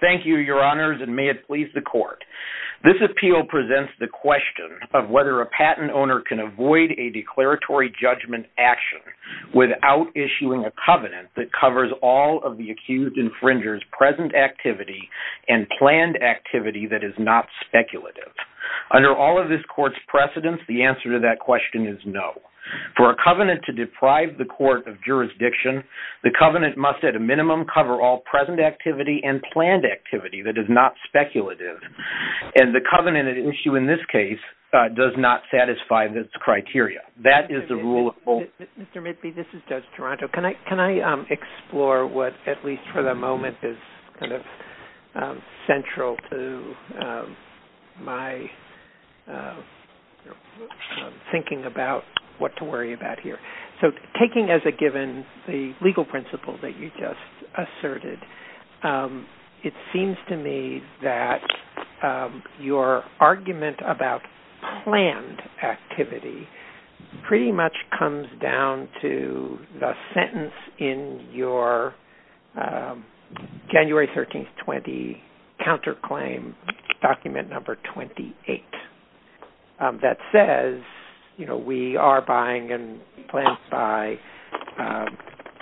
Thank you, Your Honors, and may it please the Court. This appeal presents the question of whether a patent owner can avoid a declaratory judgment action without issuing a covenant that covers all of the accused infringer's present activity and planned activity that is not speculative. Under all of this Court's precedents, the answer to that question is no. For a covenant to deprive the Court of jurisdiction, the covenant must at a minimum cover all present activity and planned activity that is not speculative, and the covenant at issue in this case does not satisfy this criteria. That is the rule of law. Mr. Midby, this is Judge Toronto. Can I explore what, at least for the moment, is central to my thinking about what to worry about here? So taking as a given the legal principle that you just asserted, it seems to me that your argument about planned activity pretty much comes down to the sentence in your January 13, 2020, counterclaim document number 28 that says, you know, we are buying and plans to buy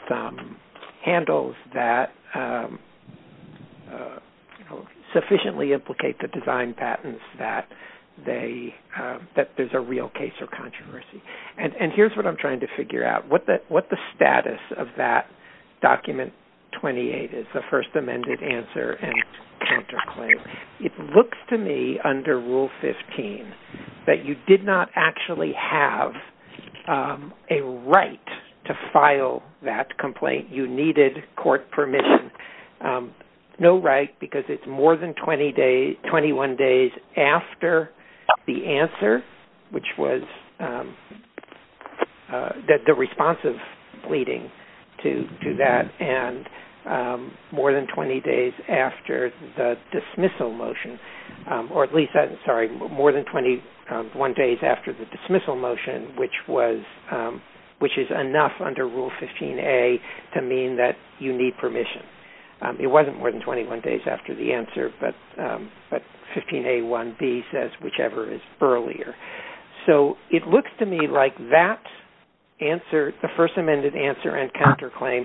some handles that sufficiently implicate the design patents that there's a real case of controversy. And here's what I'm trying to figure out. What the status of that document 28 is, the first amended answer and counterclaim. It looks to me under Rule 15 that you did not actually have a right to file that complaint. You needed court permission. No right, because it's more than 21 days after the answer, which was the responsive leading to that, and more than 20 days after the dismissal motion, or at least, sorry, more than 21 days after the dismissal motion, which was, which is enough under Rule 15A to mean that you need permission. It wasn't more than 21 days after the answer, but 15A1B says whichever is earlier. So it looks to me like that answer, the first amended answer and counterclaim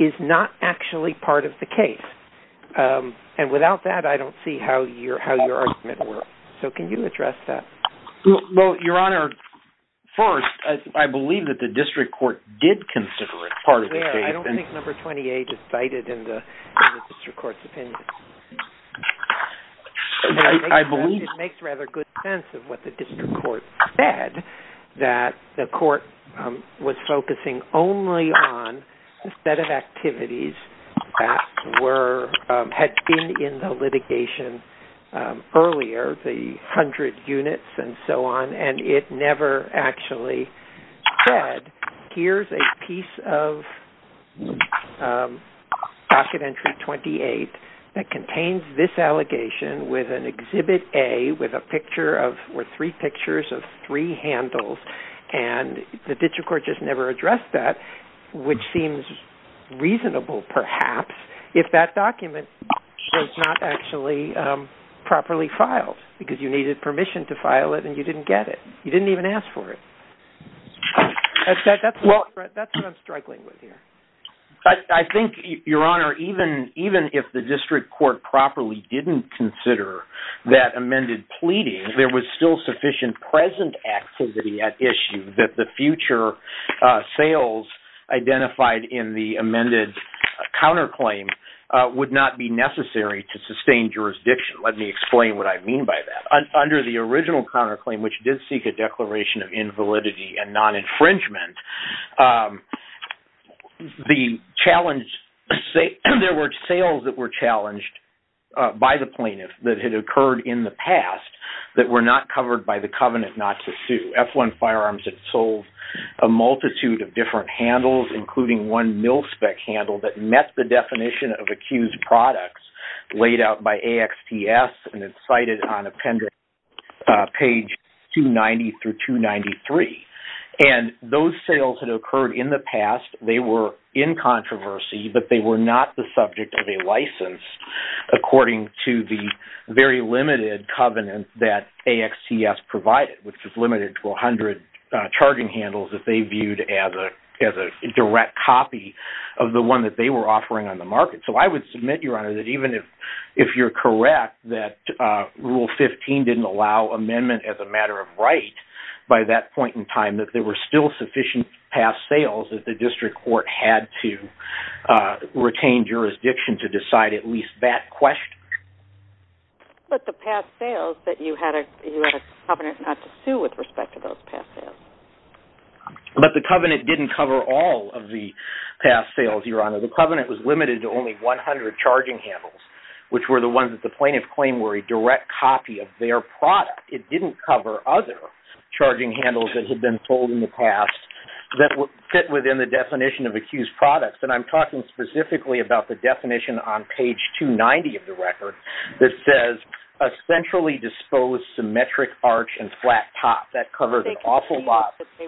is not actually part of the case. And without that, I don't see how your argument works. So can you address that? Well, Your Honor, first, I believe that the district court did consider it part of the case. I don't think number 28 is cited in the district court's opinion. I believe it makes rather good sense of what the district court said, that the court was focusing only on a set of activities that were, had been in the litigation earlier, the 100 units and so on, and it never actually said, here's a piece of docket entry 28 that contains this allegation with an Exhibit A with a picture of, or three pictures of three handles. And the district court just never addressed that, which seems reasonable perhaps, if that document was not actually properly filed, because you needed permission to file it and you didn't get it. You didn't even ask for it. That's what I'm struggling with here. I think, Your Honor, even if the district court properly didn't consider that amended pleading, there was still sufficient present activity at issue that the future sales identified in the amended counterclaim would not be necessary to sustain jurisdiction. Let me explain what I mean by that. Under the original counterclaim, which did seek a declaration of invalidity and non-infringement, the challenge, there were sales that were challenged by the plaintiff that had occurred in the past that were not covered by the covenant not to sue. F1 Firearms had sold a multitude of different handles, including one mil-spec handle that met the definition of accused products laid out by AXTS and it's cited on appendix page 290 through 293. And those sales had occurred in the past. They were in controversy, but they were not the subject of a license according to the very limited covenant that AXTS provided, which is limited to 100 charging handles that they viewed as a direct copy of the one that they were offering on the market. So I would submit, Your Honor, that even if you're correct that Rule 15 didn't allow amendment as a matter of right by that point in time, that there were still sufficient past sales that the district court had to retain jurisdiction to decide at least that question. But the past But the covenant didn't cover all of the past sales, Your Honor. The covenant was limited to only 100 charging handles, which were the ones that the plaintiff claimed were a direct copy of their product. It didn't cover other charging handles that had been sold in the past that would fit within the definition of accused products. And I'm talking specifically about the definition on page 290 of the record that says a centrally disposed symmetric arch and flat top. That covers an awful lot. They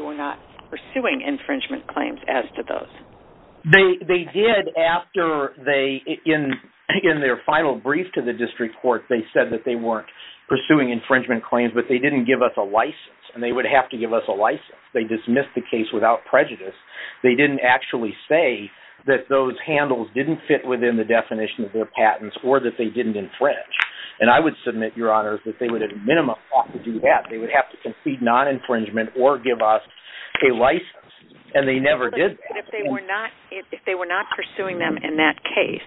were not pursuing infringement claims as to those. They did after they in their final brief to the district court, they said that they weren't pursuing infringement claims, but they didn't give us a license and they would have to give us a license. They dismissed the case without prejudice. They didn't actually say that those handles didn't fit within the definition of their patents or that they didn't infringe. And I would submit, Your Honor, that they would, at a minimum, have to do that. They would have to concede non-infringement or give us a license. And they never did. If they were not pursuing them in that case,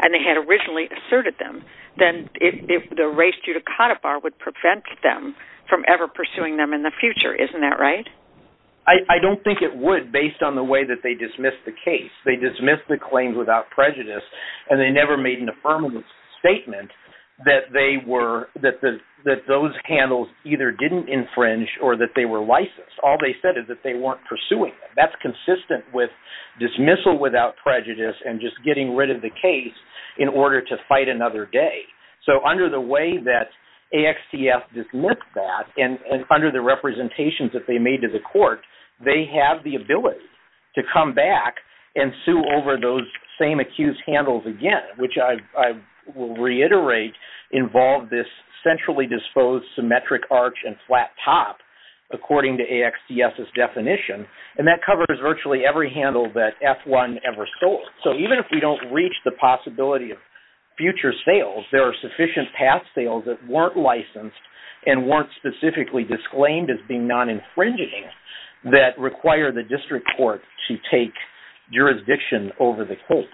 and they had originally asserted them, then if the race judicata bar would prevent them from ever pursuing them in the future, isn't that right? I don't think it would based on the way that they dismissed the case. They dismissed the claims without prejudice, and they never made an statement that those handles either didn't infringe or that they were licensed. All they said is that they weren't pursuing them. That's consistent with dismissal without prejudice and just getting rid of the case in order to fight another day. So under the way that AXTF dismissed that and under the representations that they made to the court, they have the ability to come back and sue over those same accused handles again, which I will reiterate involve this centrally disposed symmetric arch and flat top, according to AXTF's definition. And that covers virtually every handle that F1 ever sold. So even if we don't reach the possibility of future sales, there are sufficient past sales that weren't licensed and weren't specifically disclaimed as being non-infringing that require the district court to take jurisdiction over the case.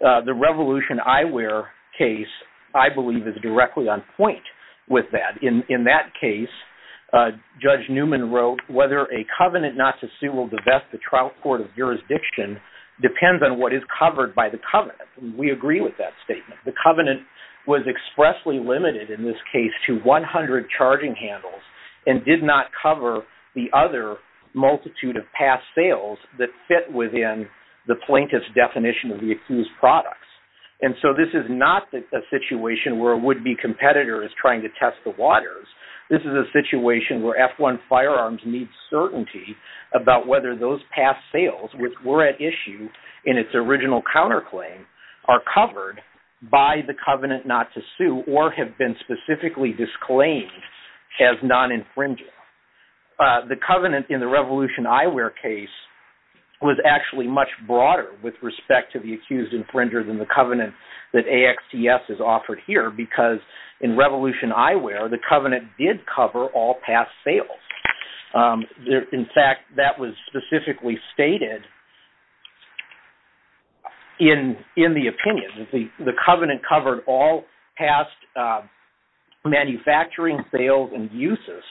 The Revolution Eyewear case, I believe, is directly on point with that. In that case, Judge Newman wrote, whether a covenant not to sue will divest the trial court of jurisdiction depends on what is covered by the covenant. We agree with that statement. The covenant was expressly limited in this case to 100 charging handles and did not cover the other multitude of past sales that fit within the plaintiff's definition of the accused products. And so this is not a situation where a would-be competitor is trying to test the waters. This is a situation where F1 firearms need certainty about whether those past sales which in its original counterclaim are covered by the covenant not to sue or have been specifically disclaimed as non-infringing. The covenant in the Revolution Eyewear case was actually much broader with respect to the accused infringer than the covenant that AXTF has offered here, because in Revolution Eyewear, the covenant did cover all past sales. In fact, that was specifically stated in the opinion. The covenant covered all past manufacturing sales and uses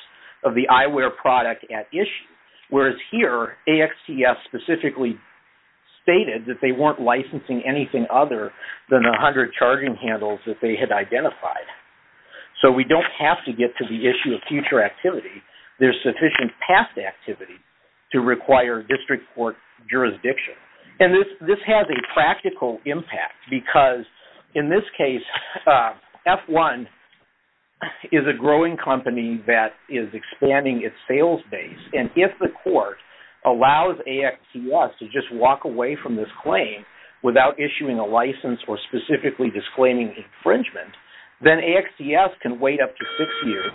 of the eyewear product at issue. Whereas here, AXTF specifically stated that they weren't licensing anything other than the 100 charging handles that they had identified. So we don't have to get to the issue of future activity. There's sufficient past activity to require district court jurisdiction. And this has a practical impact because in this case, F1 is a growing company that is expanding its sales base. And if the court allows AXTF to just walk away from this claim without issuing a license or specifically disclaiming infringement, then AXTF can wait up to six years,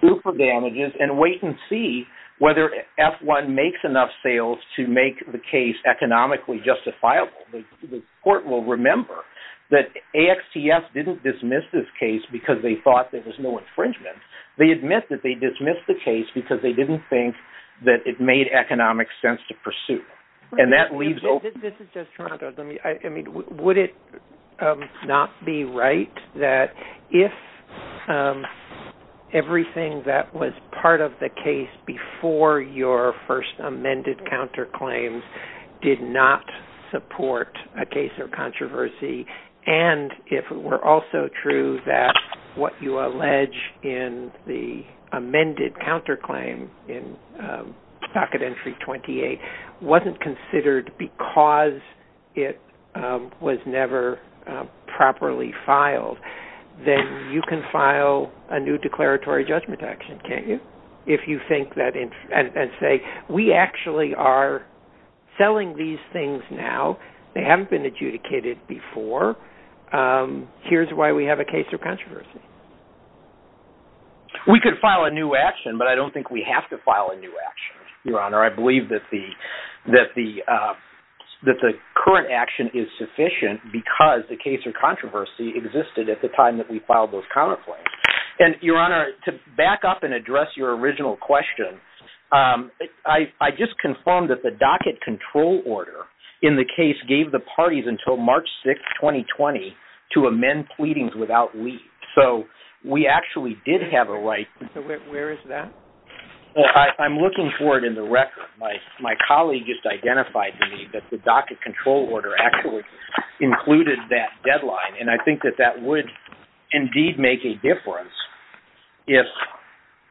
super damages, and wait and see whether F1 makes enough sales to make the case economically justifiable. The court will remember that AXTF didn't dismiss this case because they thought there was no infringement. They admit that they dismissed the case because they didn't think that it made economic sense to pursue. And that leaves... This is just Toronto. Would it not be right that if everything that was part of the case before your first amended counterclaims did not support a case or controversy, and if it were also true that what you allege in the amended counterclaim in docket entry 28 wasn't considered because it was never properly filed, then you can file a new declaratory judgment action, can't you? If you think that and say, we actually are selling these things now. They haven't been controversial. We could file a new action, but I don't think we have to file a new action, your honor. I believe that the current action is sufficient because the case or controversy existed at the time that we filed those counterclaims. And your honor, to back up and address your original question, I just confirmed that the docket control order in the case gave the parties until March 6th, 2020 to amend pleadings without leave. So we actually did have a right... So where is that? I'm looking for it in the record. My colleague just identified to me that the docket control order actually included that deadline. And I think that that would indeed make a difference if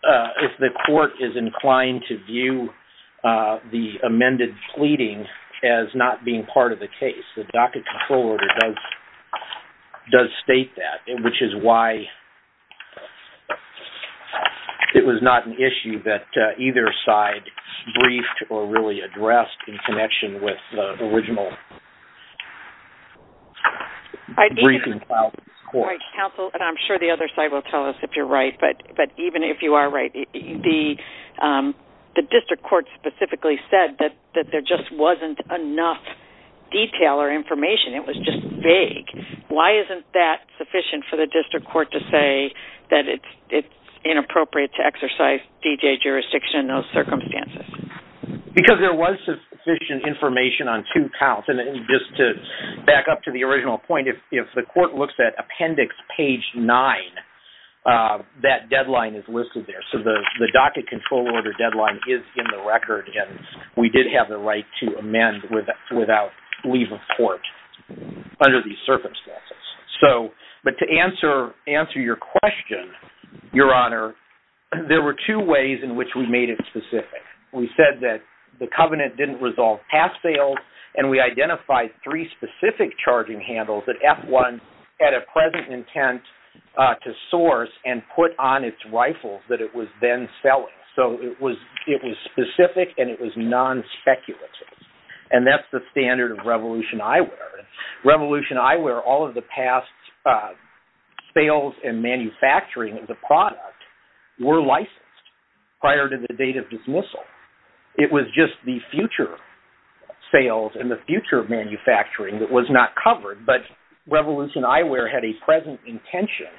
the court is inclined to view the amended pleading as not being part of the case. The docket control order does state that, which is why it was not an issue that either side briefed or really addressed in connection with the original briefing filed in this court. Right, counsel. And I'm sure the other side will tell us if you're right. But even if you are right, the district court specifically said that there just wasn't enough detail or information. It was just vague. Why isn't that sufficient for the district court to say that it's inappropriate to exercise D.J. jurisdiction in those circumstances? Because there was sufficient information on two counts. And just to back up to the original point, if the court looks at appendix page nine, that deadline is listed there. So the docket control order deadline is in the record. And we did have the right to amend without leave of court under these circumstances. But to answer your question, Your Honor, there were two ways in which we made it specific. We said that the covenant didn't resolve pass-fails, and we identified three specific charging handles that F-1 had a present intent to source and put on its selling. So it was specific and it was non-speculative. And that's the standard of Revolution Eyewear. Revolution Eyewear, all of the past sales and manufacturing of the product were licensed prior to the date of dismissal. It was just the future sales and the future manufacturing that was not covered. But Revolution Eyewear had a present intention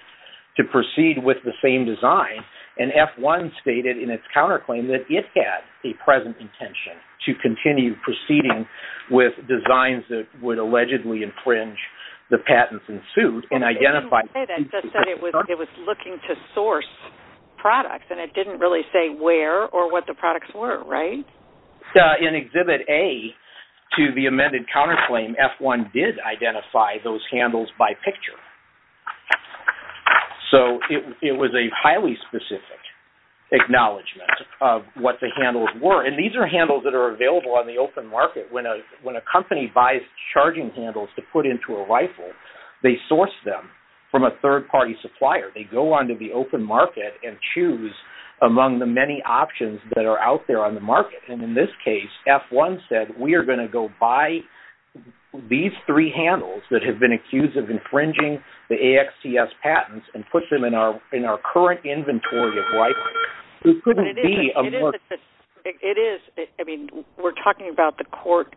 to proceed with the same design, and F-1 stated in its counterclaim that it had a present intention to continue proceeding with designs that would allegedly infringe the patents ensued and identify... It said it was looking to source products, and it didn't really say where or what the products were, right? In Exhibit A to the amended counterclaim, F-1 did identify those so it was a highly specific acknowledgement of what the handles were. And these are handles that are available on the open market. When a company buys charging handles to put into a rifle, they source them from a third-party supplier. They go onto the open market and choose among the many options that are out there on the market. And in this case, F-1 said, we are going to go buy these three handles that have been accused of infringing the AXTS patents and put them in our current inventory of rifles. It couldn't be a more... It is. I mean, we're talking about the court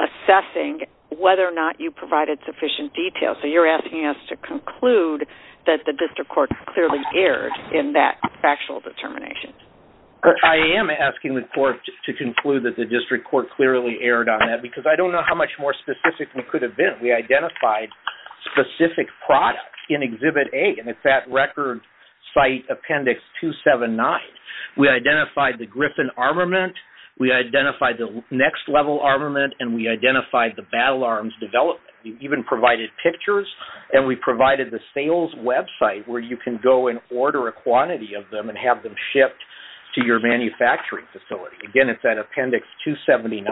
assessing whether or not you provided sufficient detail. So you're asking us to conclude that the district court clearly erred in that factual determination. I am asking the court to conclude that the district court clearly erred on that because I don't know how much more specific we could have been. We identified specific products in Exhibit A, and it's that record site appendix 279. We identified the Griffin armament, we identified the next level armament, and we identified the battle arms development. We even provided pictures and we provided the sales website where you can go and order a shipped to your manufacturing facility. Again, it's that appendix 279.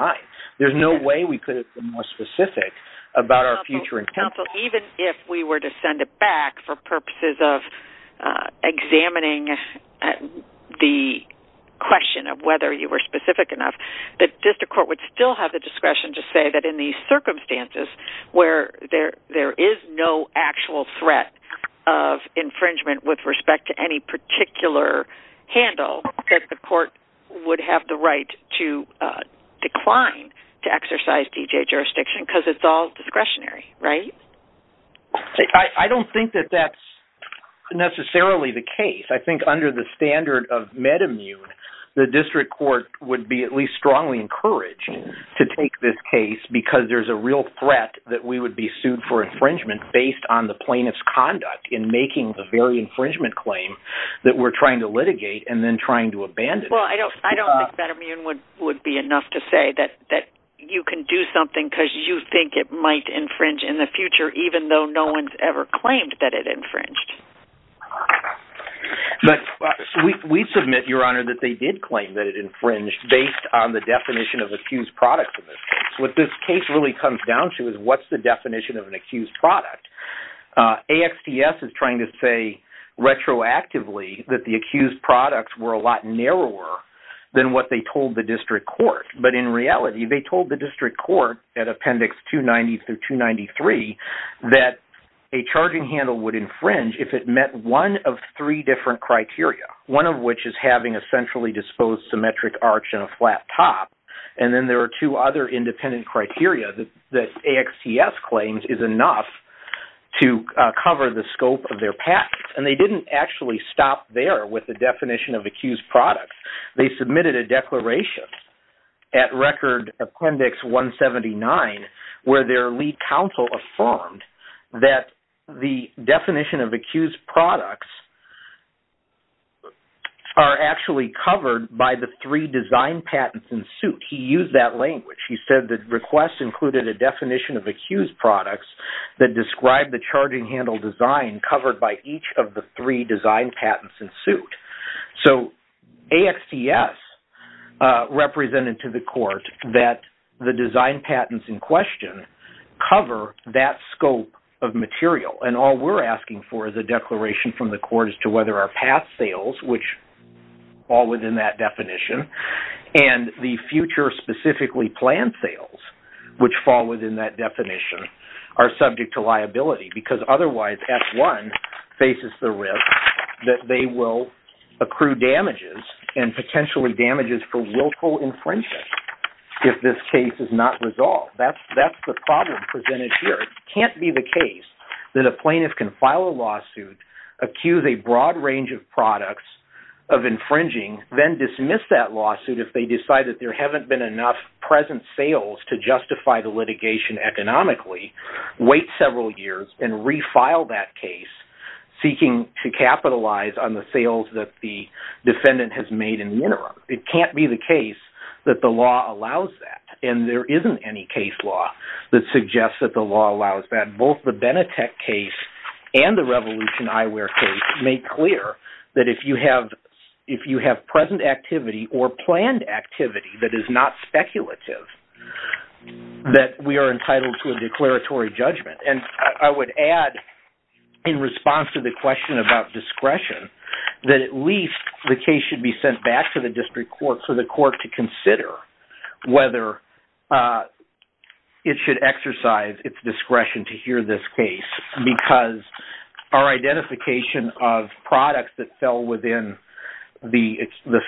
There's no way we could have been more specific about our future intent. Counsel, even if we were to send it back for purposes of examining the question of whether you were specific enough, the district court would still have the discretion to say that in these circumstances where there is no actual threat of infringement with respect to any particular handle, that the court would have the right to decline to exercise DJ jurisdiction because it's all discretionary, right? I don't think that that's necessarily the case. I think under the standard of MedImmune, the district court would be at least strongly encouraged to take this case because there's a real threat that we would be sued for infringement based on the plaintiff's conduct in making the very infringement claim that we're trying to litigate and then trying to abandon. Well, I don't think MedImmune would be enough to say that you can do something because you think it might infringe in the future even though no one's ever claimed that it infringed. We submit, Your Honor, that they did claim that it infringed based on the definition of what's the definition of an accused product. AXTS is trying to say retroactively that the accused products were a lot narrower than what they told the district court. But in reality, they told the district court at Appendix 290 through 293 that a charging handle would infringe if it met one of three different criteria, one of which is having a centrally disposed symmetric arch and a flat top. And then there are two other independent criteria that AXTS claims is enough to cover the scope of their patents. And they didn't actually stop there with the definition of accused products. They submitted a declaration at Record Appendix 179 where their lead counsel affirmed that the definition of accused products are actually covered by the three design patents in suit. He used that language. He said that requests included a definition of accused products that described the charging handle design covered by each of the three design patents in suit. So AXTS represented to the court that the design scope of material. And all we're asking for is a declaration from the court as to whether our past sales, which fall within that definition, and the future specifically planned sales, which fall within that definition, are subject to liability. Because otherwise, F1 faces the risk that they will accrue damages and potentially damages for willful infringement if this case is not resolved. That's the problem presented here. It can't be the case that a plaintiff can file a lawsuit, accuse a broad range of products of infringing, then dismiss that lawsuit if they decide that there haven't been enough present sales to justify the litigation economically, wait several years, and refile that case, seeking to capitalize on the sales that the isn't any case law that suggests that the law allows that. Both the Benetech case and the Revolution Eyewear case make clear that if you have present activity or planned activity that is not speculative, that we are entitled to a declaratory judgment. And I would add, in response to the question about discretion, that at least the case should be sent back to district court for the court to consider whether it should exercise its discretion to hear this case. Because our identification of products that fell within the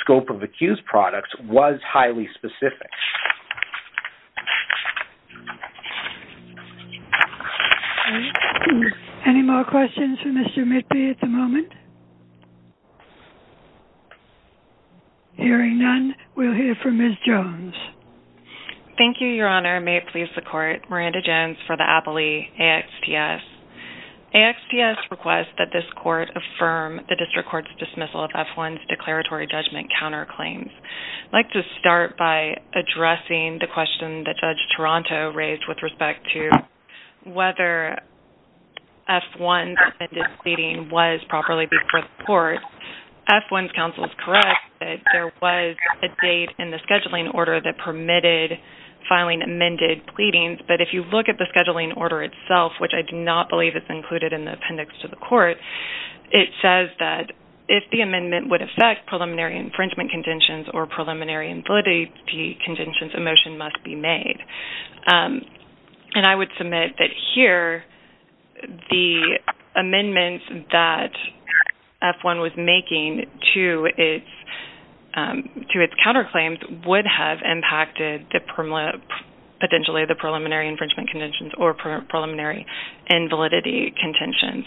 scope of accused products was highly specific. Any more questions for Mr. Mitby at the moment? Hearing none, we'll hear from Ms. Jones. Thank you, Your Honor. May it please the court, Miranda Jones for the Appley AXTS. AXTS requests that this court affirm the district court's dismissal of F1's declaratory judgment counter claims. I'd like to start by addressing the question that Judge Toronto raised with respect to whether F1's amended pleading was properly before the court. F1's counsel is correct that there was a date in the scheduling order that permitted filing amended pleadings. But if you look at the scheduling order itself, which I do not believe is included in the appendix to the court, it says that if the amendment would affect preliminary infringement conditions or here, the amendment that F1 was making to its counter claims would have impacted potentially the preliminary infringement conditions or preliminary invalidity contentions.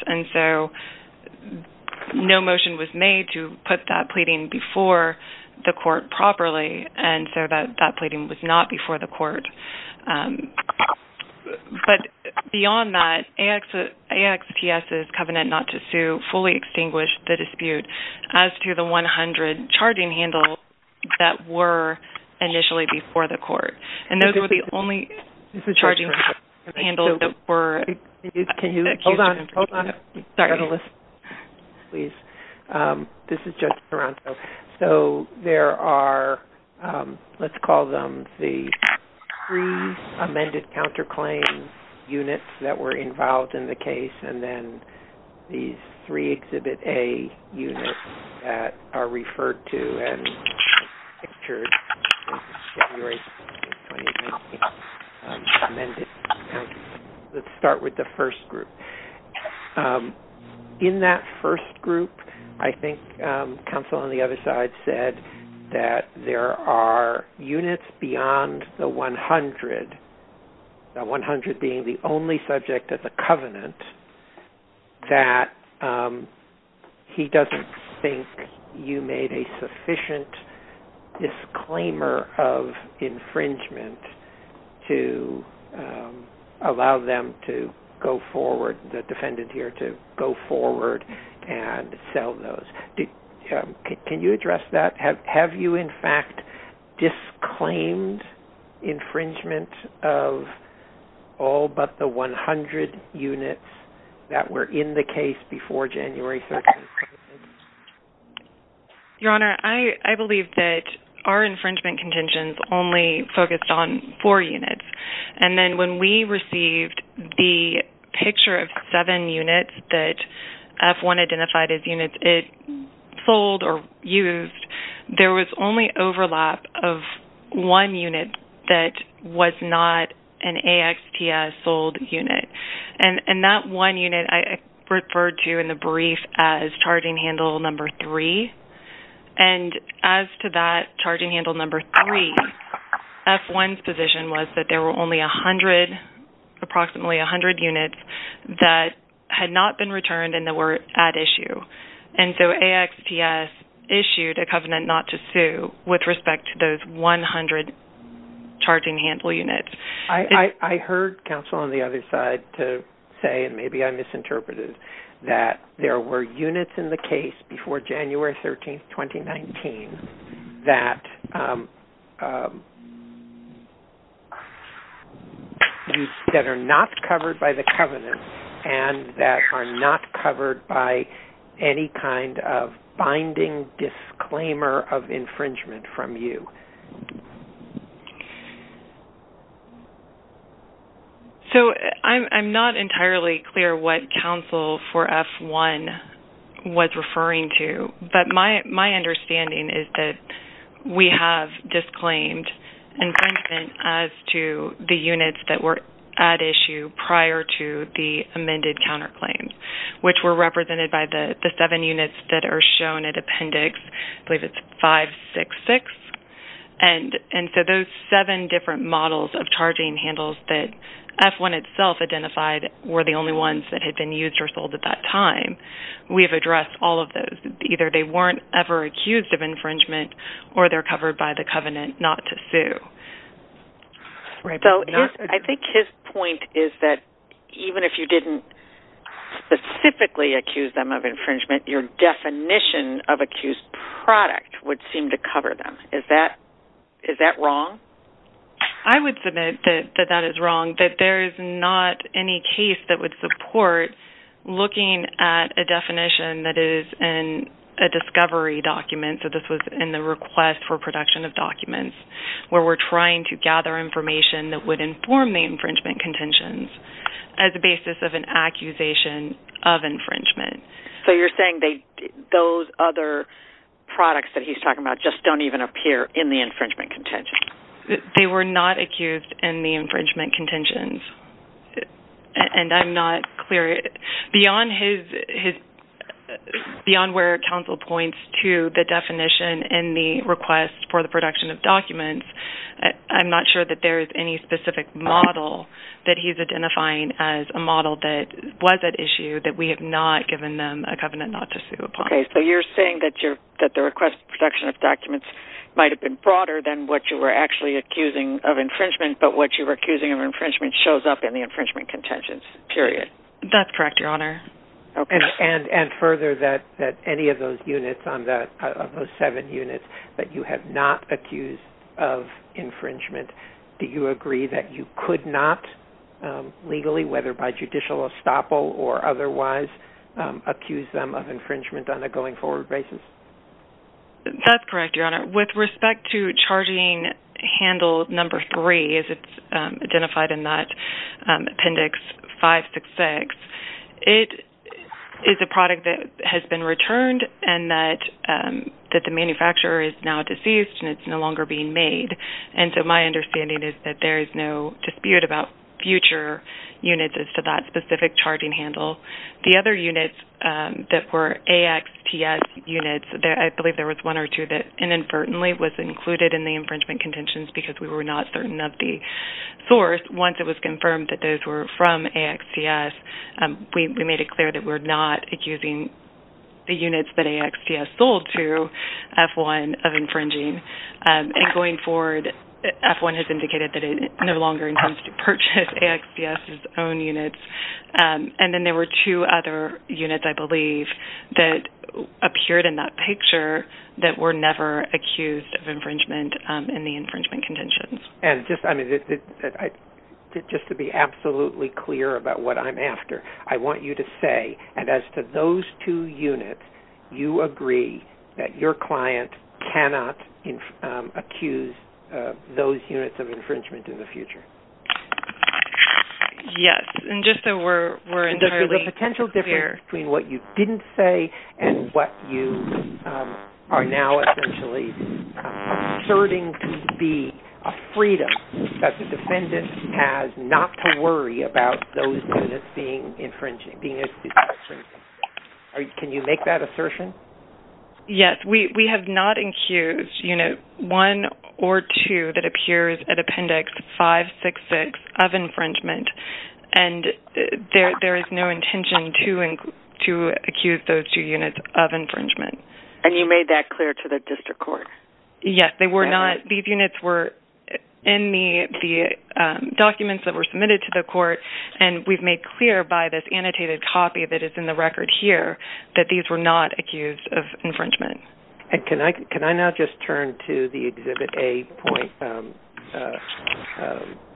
No motion was made to put that pleading before the court properly, and so that pleading was not before the court. But beyond that, AXTS's covenant not to sue fully extinguished the dispute as to the 100 charging handles that were initially before the court. And those were the only charging handles that were executed in front of the court. Sorry. This is Judge Toronto. So there are, let's call them the three amended counter claim units that were involved in the case, and then these three Exhibit A units that are referred to and pictured in February 2019 amended. Let's start with the first group. In that first group, I think counsel on the other side said that there are units beyond the 100, the 100 being the only subject of the covenant, that he doesn't think you made a sufficient disclaimer of infringement to allow them to go forward, the defendant here, to go forward and sell those. Can you address that? Have you, in fact, disclaimed infringement of all but the 100 units that were in the case before January 30th? Your Honor, I believe that our infringement contingents only focused on four units. And when we received the picture of seven units that F-1 identified as units it sold or used, there was only overlap of one unit that was not an AXTS sold unit. And that one unit I referred to in the brief as charging handle number three. And as to that charging handle number three, F-1's position was that there were only approximately 100 units that had not been returned and that were at issue. And so AXTS issued a covenant not to sue with respect to those 100 charging handle units. I heard counsel on the other side to say, and maybe I misinterpreted, that there were units in the case before January 13th, 2019 that are not covered by the covenant and that are not covered by any kind of binding disclaimer of infringement from you. So I'm not entirely clear what counsel for F-1 was referring to. But my understanding is that we have disclaimed infringement as to the units that were at issue prior to the amended counter which were represented by the seven units that are shown at appendix 566. And so those seven different models of charging handles that F-1 itself identified were the only ones that had been used or sold at that time. We've addressed all of those. Either they weren't ever accused of infringement or they're covered by the covenant not to sue. So I think his point is that even if you didn't specifically accuse them of infringement, your definition of accused product would seem to cover them. Is that wrong? I would submit that that is wrong, that there is not any case that would support looking at a definition that is in a discovery document. So this was in the request for production of documents where we're trying to gather information that would inform the infringement contentions as a basis of an accusation of infringement. So you're saying those other products that he's talking about just don't even appear in the infringement contentions? They were not accused in the infringement contentions. And I'm not clear beyond where counsel points to the definition in the request for the production of documents. I'm not sure that there is any specific model that he's identifying as a model that was at issue that we have not given them a covenant not to sue upon. Okay. So you're saying that the request for production of documents might have been broader than what you were actually accusing of infringement, but what you were accusing of infringement shows up in the infringement contentions, period? That's correct, Your Honor. Okay. And further, that any of those seven units that you have not accused of infringement, do you agree that you could not legally, whether by judicial estoppel or otherwise, accuse them of infringement on a going forward basis? That's correct, Your Honor. With respect to charging handle number three as it's identified in that Appendix 566, it is a product that has been returned and that the manufacturer is now deceased and it's no longer being made. And so my understanding is that there is no dispute about future units as to that specific charging handle. The other units that were AXTS units, I believe there was one or two that inadvertently was included in the infringement contentions because we were not certain of the source. Once it was confirmed that those were from AXTS, we made it clear that we're not accusing the units that AXTS sold to F-1 of infringing. And going forward, F-1 has indicated that it no longer intends to purchase AXTS's own units. And then there were two other units, I believe, that appeared in that picture that were never accused of infringement in the infringement contentions. And just, I mean, just to be absolutely clear about what I'm after, I want you to say, and as to those two units, you agree that your client cannot accuse those units of infringement in the future? Yes. And just so we're entirely clear. Between what you didn't say and what you are now essentially asserting to be a freedom that the defendant has not to worry about those units being infringed, being accused of infringement. Can you make that assertion? Yes. We have not accused unit one or two that appears at appendix 566 of infringement. And there is no intention to accuse those two units of infringement. And you made that clear to the district court? Yes, they were not. These units were in the documents that were submitted to the court. And we've made clear by this annotated copy that is in the record here that these were not accused of infringement. And can I now just turn to the exhibit A point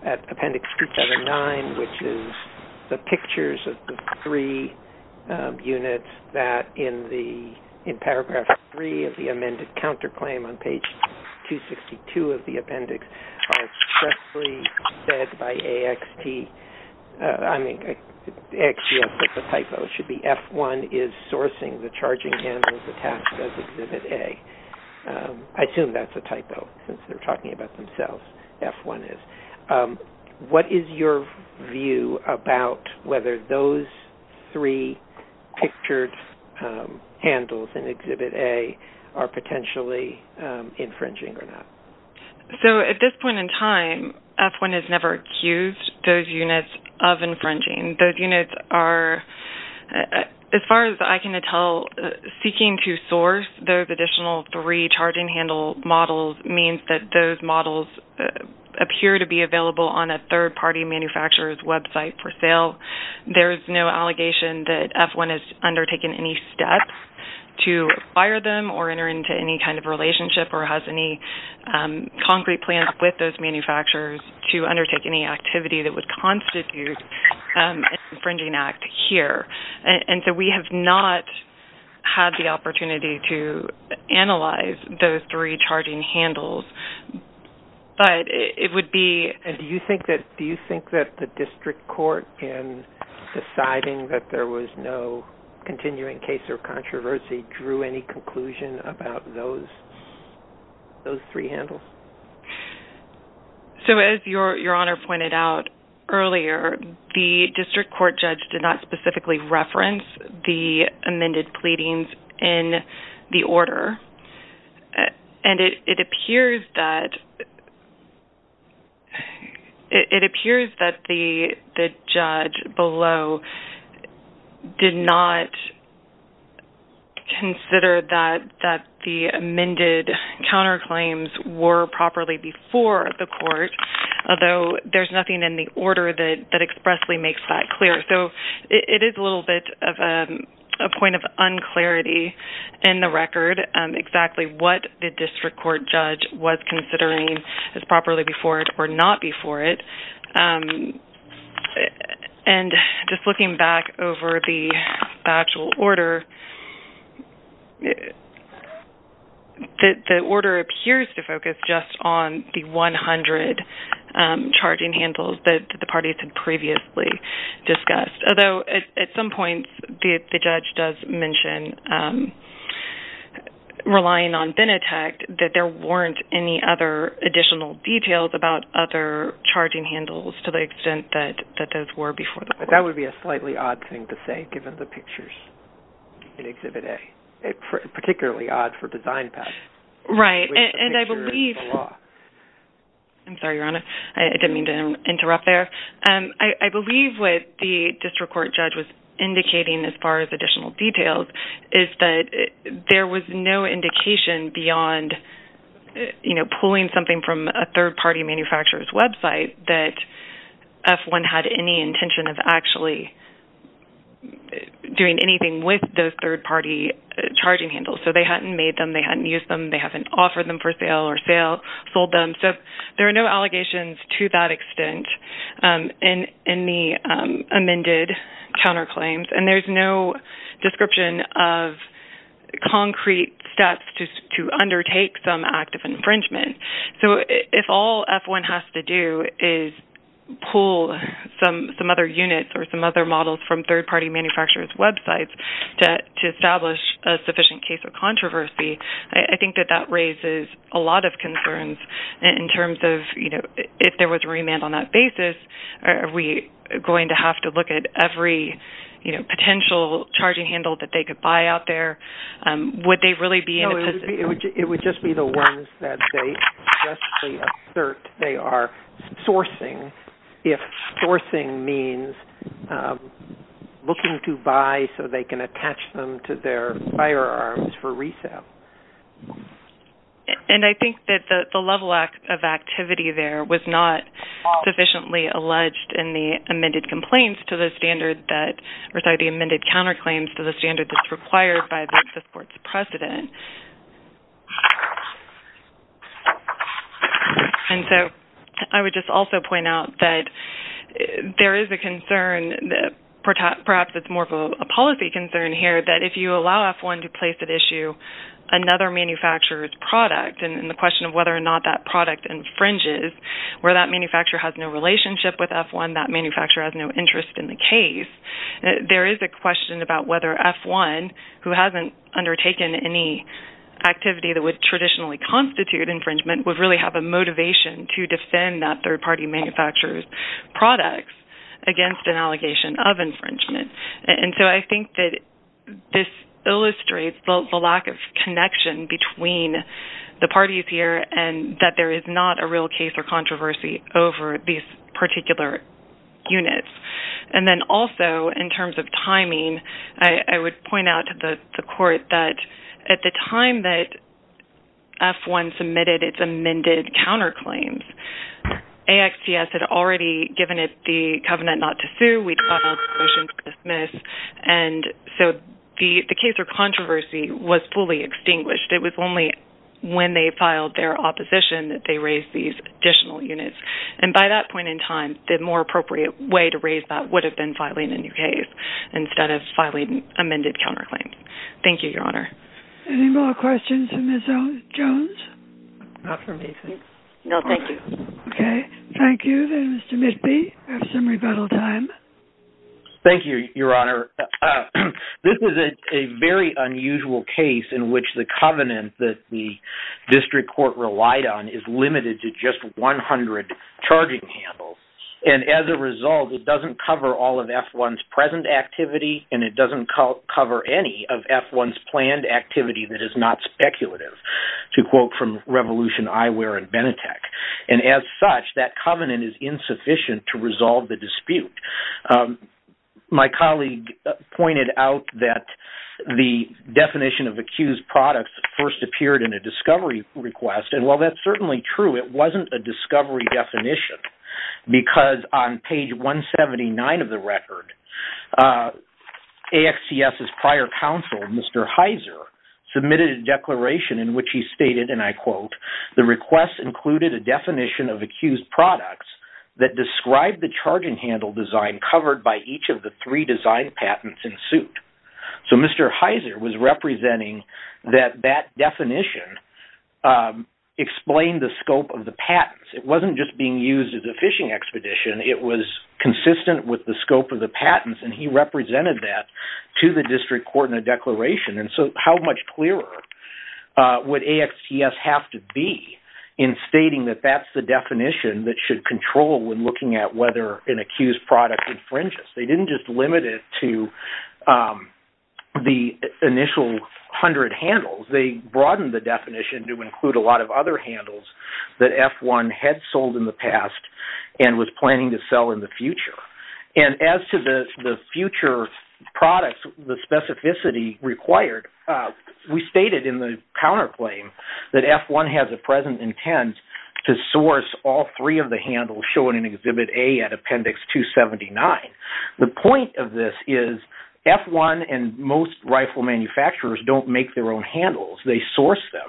at appendix 279, which is the pictures of the three units that in paragraph three of the amended counterclaim on page 262 of the appendix are expressly said by AXT. I mean, AXT has put the typo. It should be F1 is sourcing the charging handles attached as exhibit A. I assume that's a typo since they're talking about themselves. F1 is. What is your view about whether those three pictured handles in exhibit A are potentially infringing or not? So at this point in time, F1 has never accused those units of infringing. Those units are, as far as I can tell, seeking to source those additional three charging handle models means that those models appear to be available on a third-party manufacturer's website for sale. There's no allegation that F1 has undertaken any steps to acquire them or enter into any kind of relationship or has any concrete plans with those manufacturers to undertake any activity that would constitute an infringing act here. And so we have not had the opportunity to analyze those three charging handles, but it would be... And do you think that the district court in deciding that there was no continuing case or controversy drew any conclusion about those three handles? So as Your Honor pointed out earlier, the district court judge did not specifically reference the amended pleadings in the order, and it appears that the judge below did not consider that the amended counterclaims were properly before the court, although there's nothing in the order that expressly makes that clear. So it is a little bit of a point of unclarity in the record, exactly what the district court judge was considering as properly before it or not before it. And just looking back over the actual order, the order appears to focus just on the 100 charging handles that the parties had previously discussed, although at some points the judge does mention relying on Benetech that there weren't any other additional details about other charging handles to the extent that those were before the court. That would be a slightly odd thing to say, given the pictures in Exhibit A, particularly odd for design path. Right. And I believe... I'm sorry, Your Honor. I didn't mean to interrupt there. I believe what the district court judge was indicating as far as additional details is that there was no indication beyond pulling something from a third-party manufacturer's website that F1 had any intention of actually doing anything with those third-party charging handles. So they hadn't made them, they hadn't used them, they haven't offered them for sale or sold them. So there are no allegations to that extent in the amended counterclaims, and there's no description of concrete steps to undertake some act of infringement. So if all F1 has to do is pull some other units or some other models from third-party manufacturers' websites to establish a sufficient case of controversy, I think that that raises a lot of concerns in terms of, you know, if there was a remand on that basis, are we going to have to look at every, you know, potential charging handle that they could buy out there? Would they really be in a position to do that? No, it would just be the ones that they suggestively assert they are sourcing, if sourcing means looking to buy so they can attach them to their firearms for resale. And I think that the level of activity there was not sufficiently alleged in the amended complaints to the standard that, or sorry, the amended counterclaims to the And so I would just also point out that there is a concern, perhaps it's more of a policy concern here, that if you allow F1 to place at issue another manufacturer's product and the question of whether or not that product infringes, where that manufacturer has no relationship with F1, that manufacturer has no interest in the case, there is a question about whether F1, who hasn't undertaken any activity that would traditionally constitute infringement, would really have a motivation to defend that third-party manufacturer's products against an allegation of infringement. And so I think that this illustrates the lack of connection between the parties here and that there is not a real case or controversy over these particular units. And then also, in terms of timing, I would point out to the court that at the time that F1 submitted its amended counterclaims, AXPS had already given it the covenant not to sue, we'd filed a motion to dismiss, and so the case or controversy was fully extinguished. It was only when they filed their opposition that they raised these additional units. And by that point in time, the more appropriate way to raise that would have been filing a new case instead of filing amended counterclaims. Thank you, Your Honor. Any more questions for Ms. Jones? Not for me, I think. No, thank you. Okay, thank you. Then Mr. Mitby, you have some rebuttal time. Thank you, Your Honor. This is a very unusual case in which the covenant that the charging handled, and as a result, it doesn't cover all of F1's present activity, and it doesn't cover any of F1's planned activity that is not speculative, to quote from Revolution Eyewear and Benetech. And as such, that covenant is insufficient to resolve the dispute. My colleague pointed out that the definition of accused products first appeared in a discovery request, and while that's certainly true, it wasn't a discovery definition because on page 179 of the record, AXCS's prior counsel, Mr. Heiser, submitted a declaration in which he stated, and I quote, the request included a definition of accused products that described the charging handle design covered by each of the three design patents in suit. So Mr. Heiser was representing that that definition explained the scope of the patents. It wasn't just being used as a fishing expedition. It was consistent with the scope of the patents, and he represented that to the district court in a declaration. And so how much clearer would AXCS have to be in stating that that's the definition that should control when looking at whether an the initial hundred handles, they broadened the definition to include a lot of other handles that F1 had sold in the past and was planning to sell in the future. And as to the future products, the specificity required, we stated in the counterclaim that F1 has a present intent to source all three of the handles shown in Exhibit A at Appendix 279. The point of this is F1 and most rifle manufacturers don't make their own handles. They source them,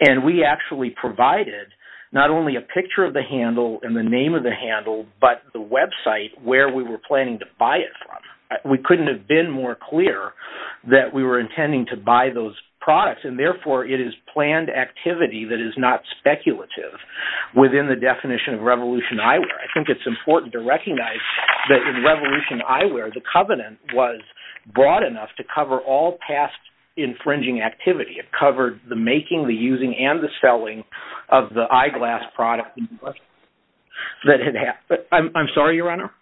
and we actually provided not only a picture of the handle and the name of the handle, but the website where we were planning to buy it from. We couldn't have been more clear that we were intending to buy those products, and therefore it is planned activity that is not speculative within the definition of Revolution Eyewear. I think it's important to recognize that in broad enough to cover all past infringing activity. It covered the making, the using, and the selling of the eyeglass product that had happened. I'm sorry, your honor.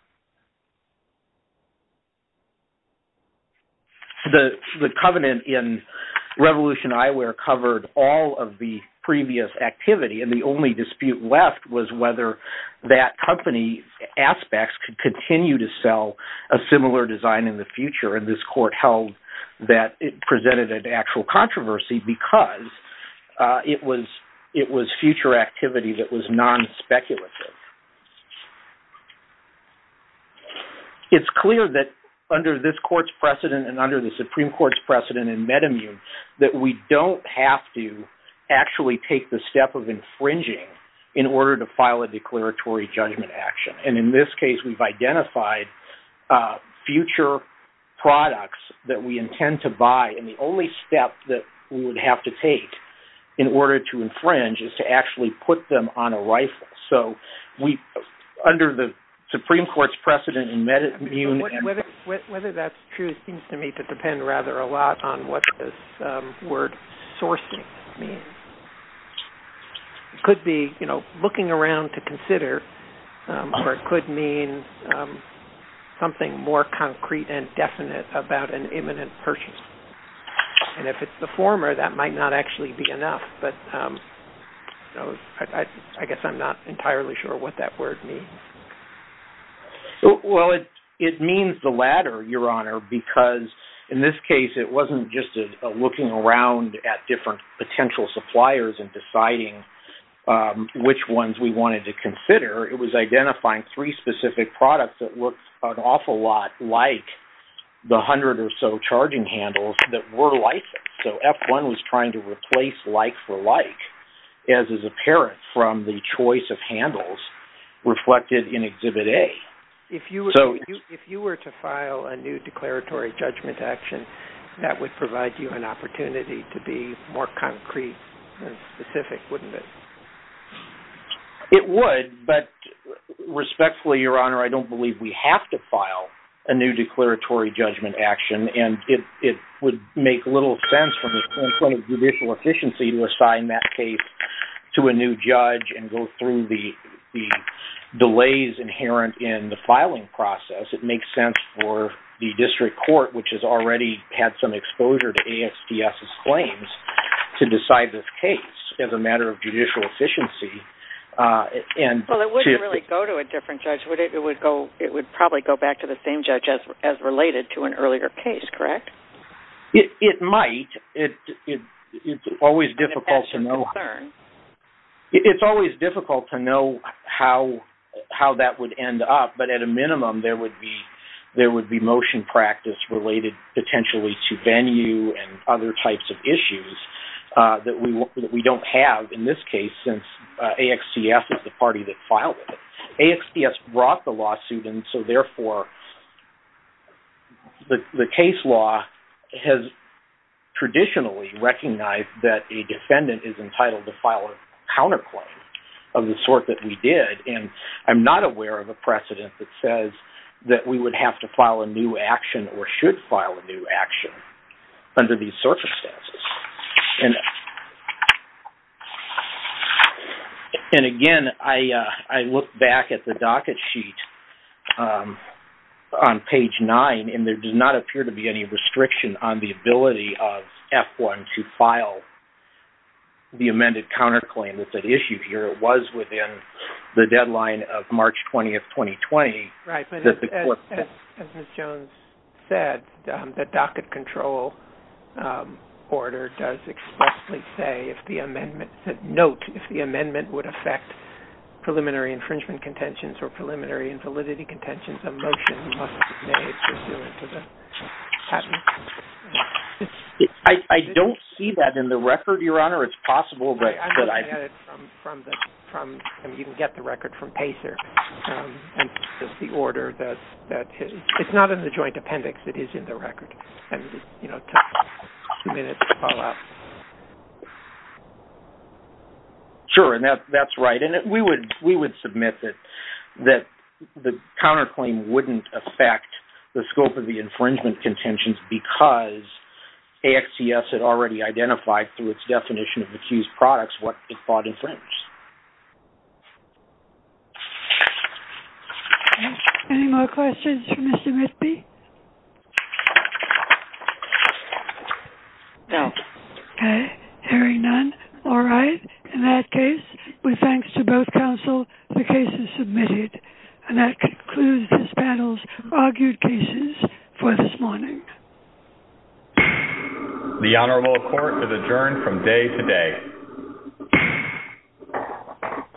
The covenant in Revolution Eyewear covered all of the previous activity, and the only dispute left was whether that company aspects could continue to sell a similar design in the future, and this court held that it presented an actual controversy because it was future activity that was non-speculative. It's clear that under this court's precedent and under the Supreme Court's precedent in Metamune that we don't have to actually take the step of infringing in order to file a declaratory judgment action, and in this case we've identified future products that we intend to buy, and the only step that we would have to take in order to infringe is to actually put them on a rifle. So under the Supreme Court's precedent in Metamune... Whether that's true seems to me to depend rather a lot on what this word sourcing means. It could be looking around to consider, or it could mean something more concrete and definite about an imminent purchase, and if it's the former that might not actually be enough, but I guess I'm not entirely sure what that word means. Well, it means the latter, your honor, because in this case it wasn't just looking around at potential suppliers and deciding which ones we wanted to consider. It was identifying three specific products that looked an awful lot like the hundred or so charging handles that were like them. So F1 was trying to replace like for like, as is apparent from the choice of handles reflected in Exhibit A. If you were to file a new declaratory judgment action, that would provide you an opportunity to be more concrete and specific, wouldn't it? It would, but respectfully, your honor, I don't believe we have to file a new declaratory judgment action, and it would make little sense from the point of judicial efficiency to assign that case to a new judge and go through the delays inherent in the filing process. It makes sense for the district court, which has already had some exposure to ASDS's claims, to decide this case as a matter of judicial efficiency. Well, it wouldn't really go to a different judge. It would probably go back to the same judge as related to an earlier case, correct? It might. It's always difficult to know. It's always difficult to know how that would end up, but at a minimum, there would be practice related potentially to venue and other types of issues that we don't have in this case since AXDS is the party that filed it. AXDS brought the lawsuit, and so therefore, the case law has traditionally recognized that a defendant is entitled to file a counterclaim of the sort that we did, and I'm not aware of a precedent that says that we would have to file a new action or should file a new action under these circumstances. And again, I look back at the docket sheet on page 9, and there does not appear to be any restriction on the ability of F1 to file the amended counterclaim that's at issue here. It was within the deadline of March 20th, 2020. Right, but as Ms. Jones said, the docket control order does expressly say if the amendment...note if the amendment would affect preliminary infringement contentions or preliminary invalidity contentions, a motion must be made pursuant to the patent. I don't see that in the record, Your Honor. It's possible, but... From the...you can get the record from Pacer, and the order that...it's not in the joint appendix. It is in the record, and, you know, it took a few minutes to follow up. Sure, and that's right, and we would submit that the counterclaim wouldn't affect the scope of the infringement contentions because AXDS had already identified through its definition of accused products what it thought infringed. Any more questions for Mr. Mitby? No. Okay, hearing none, all right. In that case, with thanks to both counsel, the case is submitted, and that concludes this panel's argued cases for this morning. Thank you. The Honorable Court is adjourned from day to day.